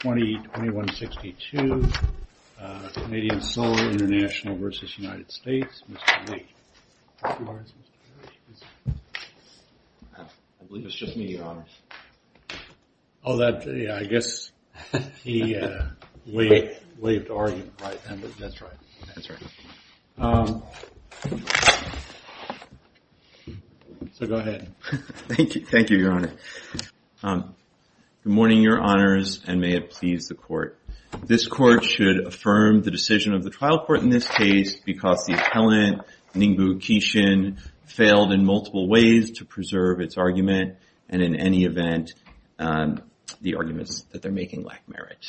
Mr. Lee. I believe it's just me, Your Honor. Oh, that, yeah, I guess the way of the argument, right? That's right. That's right. So go ahead. Thank you. Thank you, Your Honor. Good morning, Your Honors, and may it please the court. This court should affirm the decision of the trial court in this case because the appellant, Ningbo Kishin, failed in multiple ways to preserve its argument, and in any event, the arguments that they're making lack merit.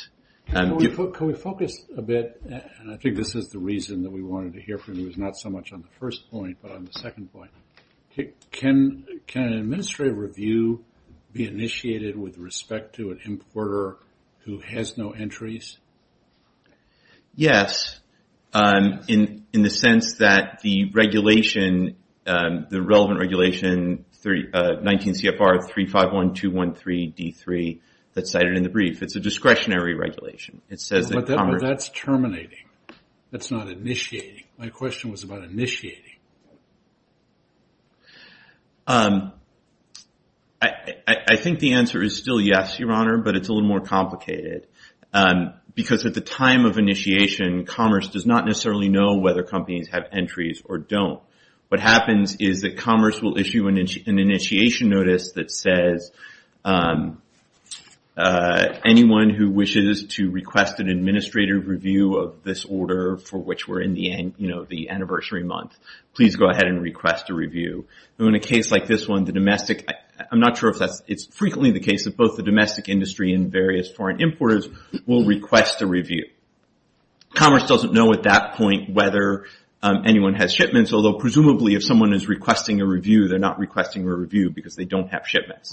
Can we focus a bit, and I think this is the reason that we wanted to hear from you, is not so much on the importer who has no entries? Yes, in the sense that the regulation, the relevant regulation 19 CFR 351213 D3 that's cited in the brief, it's a discretionary regulation. It says that... But that's terminating. That's not initiating. My question was about that, but it's a little more complicated because at the time of initiation, commerce does not necessarily know whether companies have entries or don't. What happens is that commerce will issue an initiation notice that says, anyone who wishes to request an administrative review of this order for which we're in the anniversary month, please go ahead and request a review. In a case like this one, the domestic... I'm not sure if that's... It's frequently the case that both the domestic industry and various foreign importers will request a review. Commerce doesn't know at that point whether anyone has shipments, although presumably if someone is requesting a review, they're not requesting a review because they don't have shipments.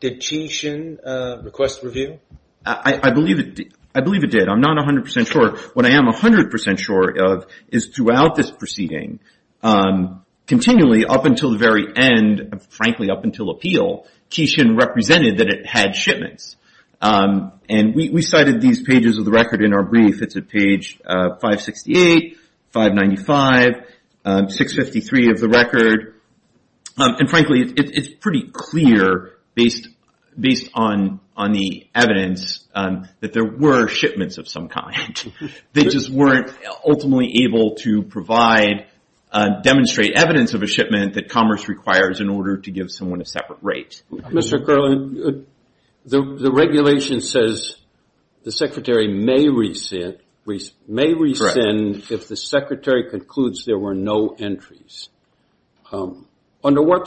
Did Kishin request review? I believe it did. I'm not 100% sure. What I am 100% sure of is throughout this proceeding, continually up until the very end, frankly up until appeal, Kishin represented that it had shipments. We cited these pages of the record in our brief. It's at page 568, 595, 653 of the They just weren't ultimately able to demonstrate evidence of a shipment that commerce requires in order to give someone a separate rate. Mr. Curlin, the regulation says the secretary may rescind if the secretary concludes there were no entries. Under what Well,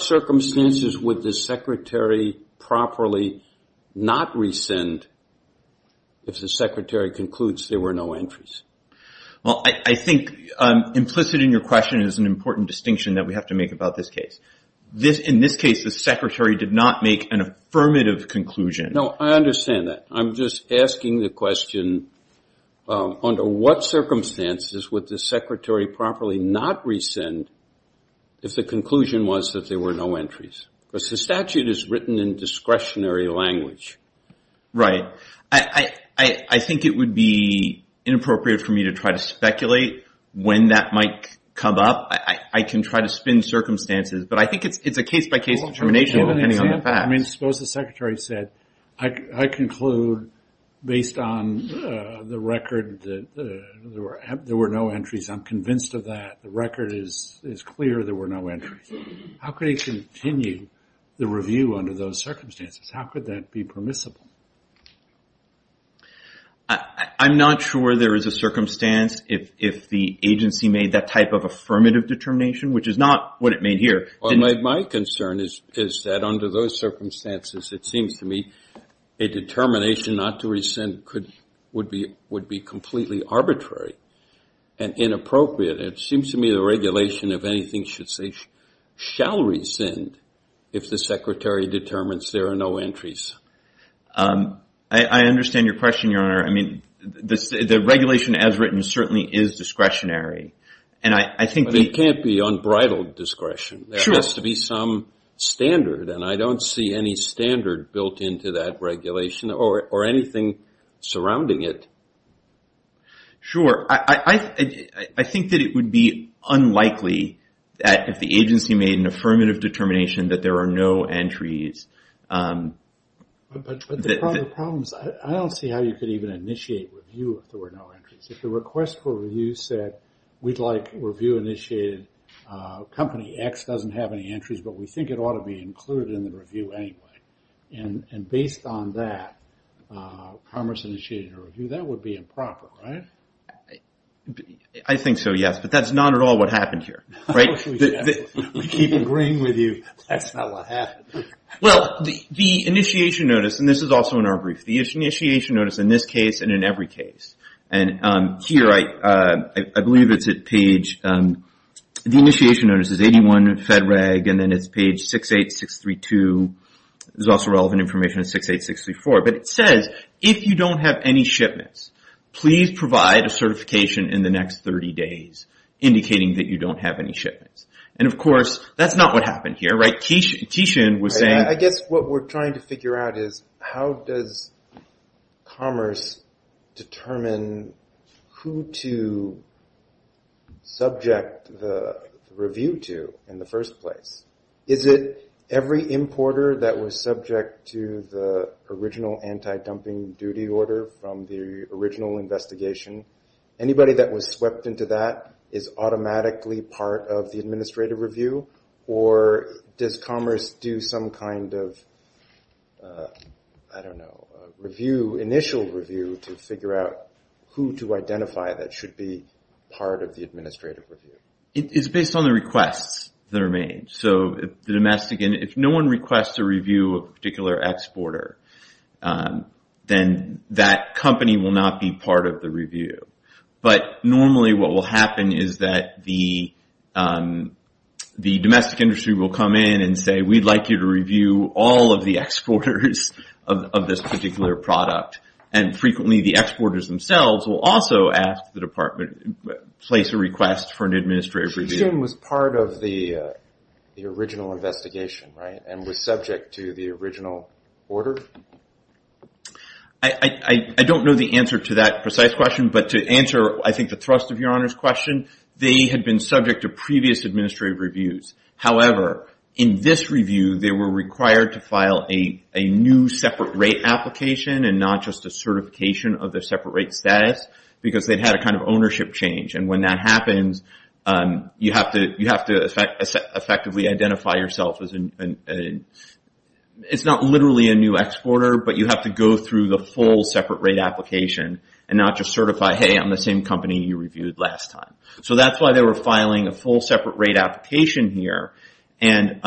I think implicit in your question is an important distinction that we have to make about this case. In this case, the secretary did not make an affirmative conclusion. No, I understand that. I'm just asking the question, under what circumstances would the secretary properly not rescind if the conclusion was that there were no entries? Because the statute is written in discretionary language. Right. I think it would be inappropriate for me to try to speculate when that might come up. I can try to spin circumstances, but I think it's a case-by-case determination depending on the facts. I mean, suppose the secretary said, I conclude based on the record that there were no entries. I'm convinced of that. The record is clear there were no entries. How could he continue the review under those I'm not sure there is a circumstance if the agency made that type of affirmative determination, which is not what it made here. Well, my concern is that under those circumstances, it seems to me a determination not to rescind would be completely arbitrary and inappropriate. It seems to me the regulation, if anything, should say shall rescind if the secretary determines there are no entries. I understand your question, Your Honor. I mean, the regulation as written certainly is discretionary. But it can't be unbridled discretion. There has to be some standard, and I don't see any standard built into that regulation or anything surrounding it. Sure. I think the agency made an affirmative determination that there are no entries. But the problem is I don't see how you could even initiate review if there were no entries. If the request for review said, we'd like review initiated, company X doesn't have any entries, but we think it ought to be included in the review anyway. And based on that, commerce initiated a review, that would be keeping green with you. That's not what happened. Well, the initiation notice, and this is also in our brief, the initiation notice in this case and in every case. And here, I believe it's at page, the initiation notice is 81 Fed Reg, and then it's page 68632. There's also relevant information at 68634. But it says, if you don't have any shipments, please provide a certification in the next 30 days indicating that you don't have any shipments. And of course, that's not what happened here. I guess what we're trying to figure out is how does commerce determine who to subject the review to in the first place? Is it every importer that was subject to the original anti-dumping duty order from the original investigation? Anybody that was swept into that is automatically part of the administrative review? Or does commerce do some kind of, I don't know, initial review to figure out who to identify that should be part of the administrative review? It's based on the requests that are made. So, if no one requests a particular exporter, then that company will not be part of the review. But normally, what will happen is that the domestic industry will come in and say, we'd like you to review all of the exporters of this particular product. And frequently, the exporters themselves will also ask the department, place a request for an administrative review. The presumption was part of the original investigation, right? And was subject to the original order? I don't know the answer to that precise question. But to answer, I think, the thrust of your Honor's question, they had been subject to previous administrative reviews. However, in this review, they were required to file a new separate rate application and not just a You have to effectively identify yourself. It's not literally a new exporter, but you have to go through the full separate rate application and not just certify, hey, I'm the same company you reviewed last time. So that's why they were filing a full separate rate application here. And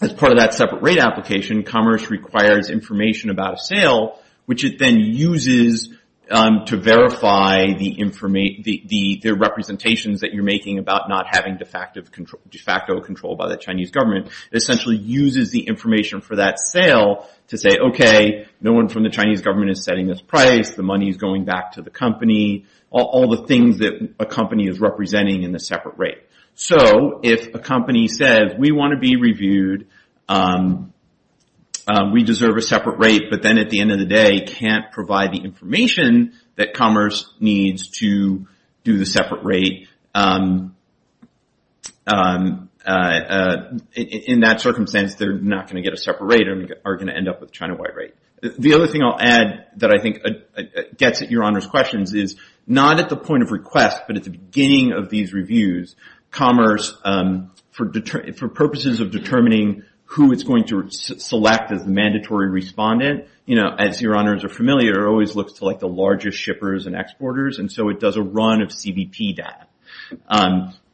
as part of that separate rate application, commerce requires information about a sale, which it then uses to de facto control by the Chinese government. It essentially uses the information for that sale to say, okay, no one from the Chinese government is setting this price. The money is going back to the company. All the things that a company is representing in the separate rate. So if a company says, we want to be reviewed, we deserve a separate rate, but then at the end of the day, can't provide the In that circumstance, they're not going to get a separate rate and are going to end up with a China-wide rate. The other thing I'll add that I think gets at your Honor's questions is, not at the point of request, but at the beginning of these reviews, commerce, for purposes of determining who it's going to select as the mandatory respondent, as your Honors are familiar, always looks to the largest shippers and exporters. And so it does a run of CBP data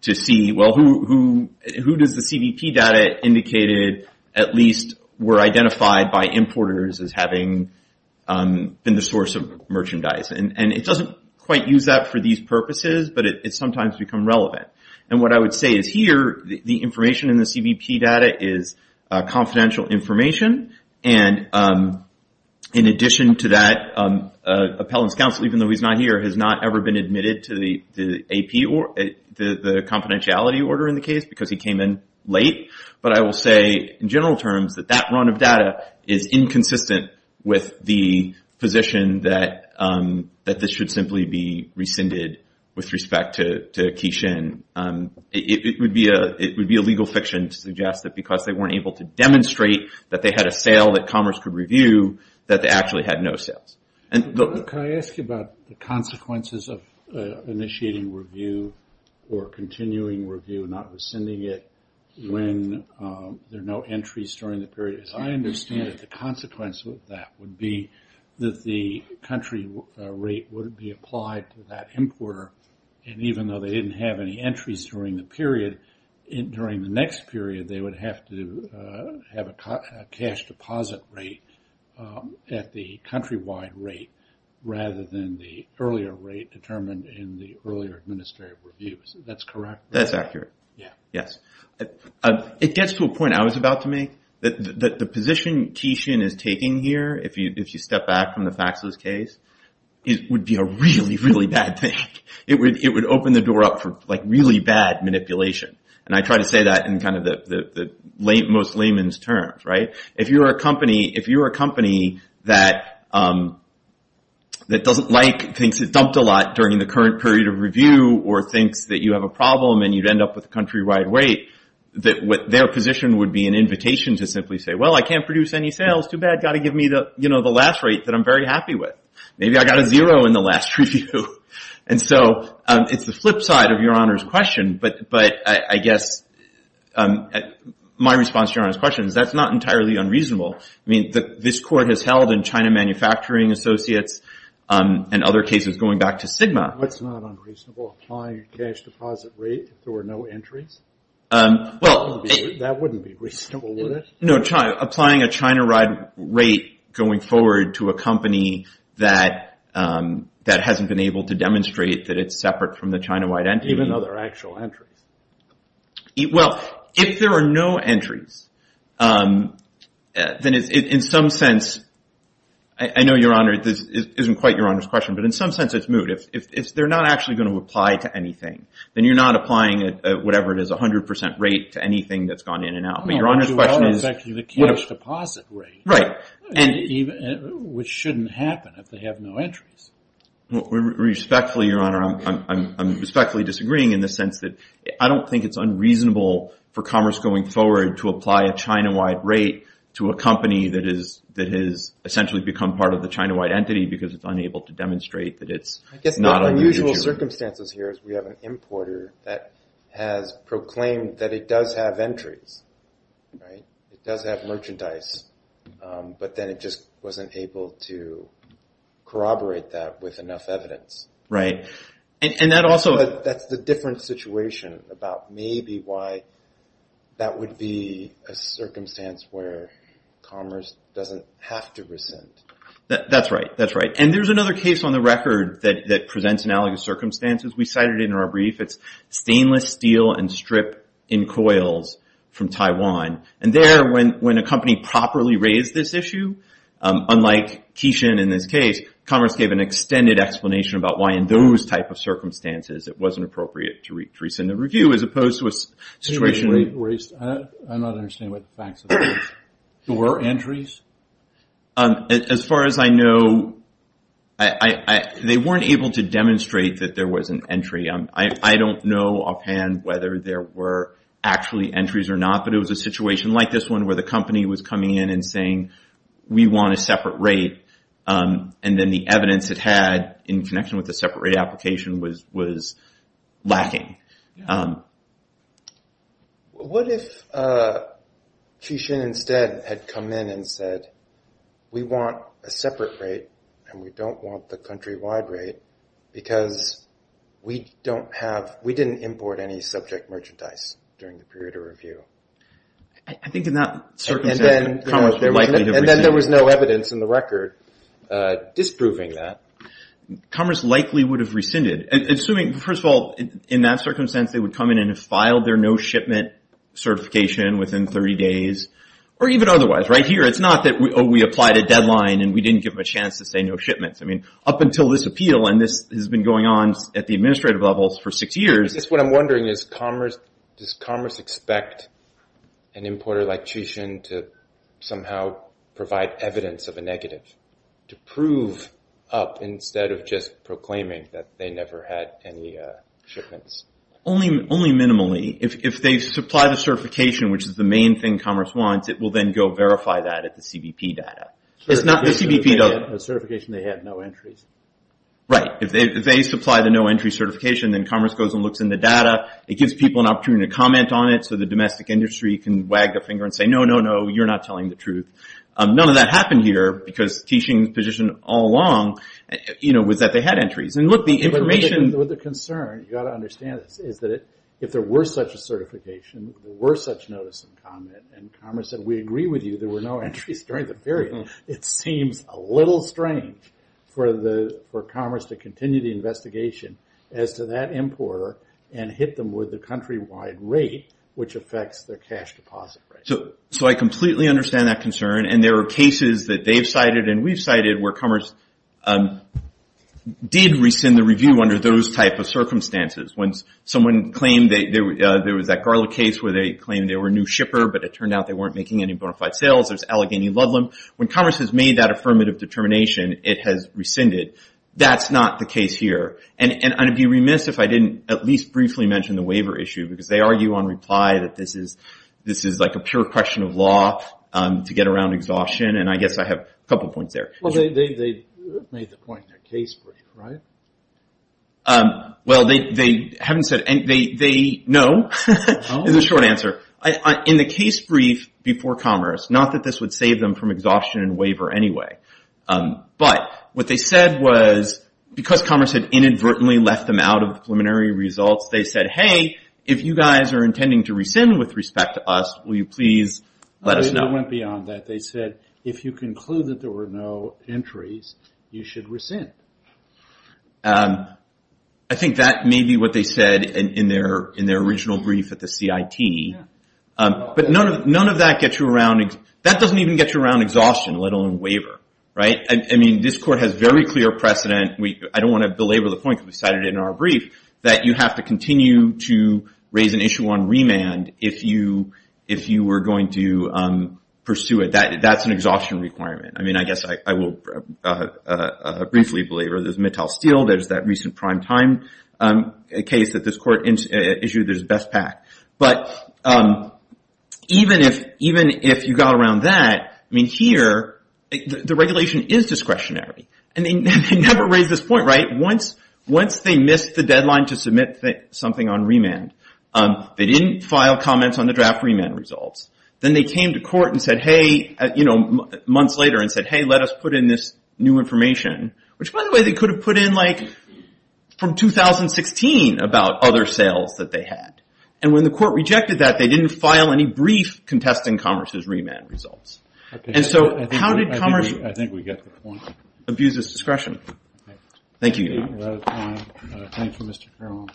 to see, well, who does the CBP data indicated at least were identified by importers as having been the source of merchandise. And it doesn't quite use that for these purposes, but it sometimes becomes relevant. And what I would say is here, the information in the CBP data is confidential information. And in addition to that, Appellant's Counsel, even though he's not here, has not ever been admitted to the confidentiality order in the case because he came in late. But I will say, in general terms, that that run of data is inconsistent with the position that this should simply be rescinded with respect to Keyshin. It would be a legal fiction to suggest that because they weren't able to demonstrate that they had a sale that Can I ask you about the consequences of initiating review or continuing review, not rescinding it when there are no entries during the period? As I understand it, the consequence of that would be that the country rate would be applied to that importer. And even though they didn't have any entries during the period, during the next period, they would have to have a cash deposit rate at the countrywide rate rather than the earlier rate determined in the earlier administrative reviews. That's correct? That's accurate. Yes. It gets to a point I was about to make. The position Keyshin is taking here, if you step back from the Faxos case, would be a really, really bad thing. It would open the door up for really bad manipulation. And I try to say that in the most layman's terms. If you're a company that doesn't like things that are dumped a lot during the current period of review or thinks that you have a problem and you'd end up with a countrywide rate, their position would be an invitation to simply say, well, I can't produce any sales. Too bad. Got to give me the last rate that I'm very happy with. Maybe I got a zero in the last review. And so it's the flip side of Your Honor's question. But I guess my response to Your Honor's question is that's not entirely unreasonable. I mean, this court has held in China Manufacturing Associates and other cases going back to SGMA. What's not unreasonable? Applying a cash deposit rate if there were no entries? That wouldn't be reasonable, would it? No. Applying a China rate going forward to a company that hasn't been able to demonstrate that it's separate from the China-wide entry. Even though there are actual entries. Well, if there are no entries, then in some sense, I know, Your Honor, this isn't quite Your Honor's question, but in some sense it's moot. If they're not actually going to apply to anything, then you're not applying whatever it is, a 100% rate to anything that's gone in and out. But Your Honor's question is... I don't know why you're not affecting the cash deposit rate. Right. Which shouldn't happen if they have no entries. Respectfully, Your Honor, I'm respectfully disagreeing in the sense that I don't think it's unreasonable for commerce going forward to apply a China-wide rate to a company that has essentially become part of the China-wide entity because it's unable to demonstrate that it's not The unusual circumstances here is we have an importer that has proclaimed that it does have entries, right? It does have merchandise, but then it just wasn't able to corroborate that with enough evidence. Right. And that also... That's the different situation about maybe why that would be a circumstance where commerce doesn't have to rescind. That's right. That's right. And there's another case on the record that presents analogous circumstances. We cited it in our brief. It's stainless steel and strip in coils from Taiwan. And there, when a company properly raised this issue, unlike Kishin in this case, commerce gave an extended explanation about why in those type of circumstances it wasn't appropriate to rescind a review as opposed to a situation... I'm not understanding what the facts are. There were entries? As far as I know, they weren't able to demonstrate that there was an entry. I don't know offhand whether there were actually entries or not, but it was a situation like this one where the company was coming in and saying, we want a separate rate, and then the evidence it had in connection with the separate rate application was lacking. What if Kishin instead had come in and said, we want a separate rate, and we don't want the countrywide rate, because we didn't import any subject merchandise during the period of review? I think in that circumstance, commerce likely would have rescinded. And then there was no evidence in the record disproving that. Commerce likely would have rescinded. Assuming, first of all, in that circumstance, they would come in and have filed their no shipment certification within 30 days, or even otherwise. Right here, it's not that we applied a deadline and we didn't give them a chance to say no shipments. I mean, up until this appeal, and this has been going on at the administrative levels for six years. What I'm wondering is, does commerce expect an importer like Kishin to somehow provide evidence of a negative, to prove up instead of just proclaiming that they never had any shipments? Only minimally. If they supply the certification, which is the main thing commerce wants, it will then go verify that at the CBP data. The certification they had, no entries. Right. If they supply the no entry certification, then commerce goes and looks in the data. It gives people an opportunity to comment on it, so the domestic industry can wag their finger and say, no, no, no, you're not telling the truth. None of that happened here, because Kishin's position all along was that they had entries. With the concern, you've got to understand this, is that if there were such a certification, if there were such notice of comment, and commerce said, we agree with you, there were no entries during the period, it seems a little strange for commerce to continue the investigation as to that importer and hit them with the country-wide rate, which affects their cash deposit rate. So I completely understand that concern, and there are cases that they've cited and we've cited where commerce did rescind the review under those type of circumstances. When someone claimed there was that Garlick case where they claimed they were a new shipper, but it turned out they weren't making any bona fide sales, there's Allegheny Ludlam. When commerce has made that affirmative determination, it has rescinded. That's not the case here. And I'd be remiss if I didn't at least briefly mention the waiver issue, because they argue on reply that this is like a pure question of law to get around exhaustion, and I guess I have a couple of points there. Well, they made the point in their case brief, right? Well, they haven't said, no, is the short answer. In the case brief before commerce, not that this would save them from exhaustion and waiver anyway, but what they said was because commerce had inadvertently left them out of the preliminary results, they said, hey, if you guys are intending to rescind with respect to us, will you please let us know? It went beyond that. They said, if you conclude that there were no entries, you should rescind. I think that may be what they said in their original brief at the CIT. But none of that gets you around. That doesn't even get you around exhaustion, let alone waiver, right? I mean, this court has very clear precedent. I don't want to belabor the point, because we cited it in our brief, that you have to continue to raise an issue on remand if you were going to pursue it. That's an exhaustion requirement. I mean, I guess I will briefly belabor this. There's Mattel Steel. There's that recent prime time case that this court issued. There's BestPak. But even if you got around that, I mean, here, the regulation is discretionary. And they never raised this point, right? Once they missed the deadline to submit something on remand, they didn't file comments on the draft remand results. Then they came to court months later and said, hey, let us put in this new information, which, by the way, they could have put in from 2016 about other sales that they had. And when the court rejected that, they didn't file any brief contesting Commerce's remand results. And so how did Commerce abuse its discretion? Thank you. Thank you, Mr. Carroll.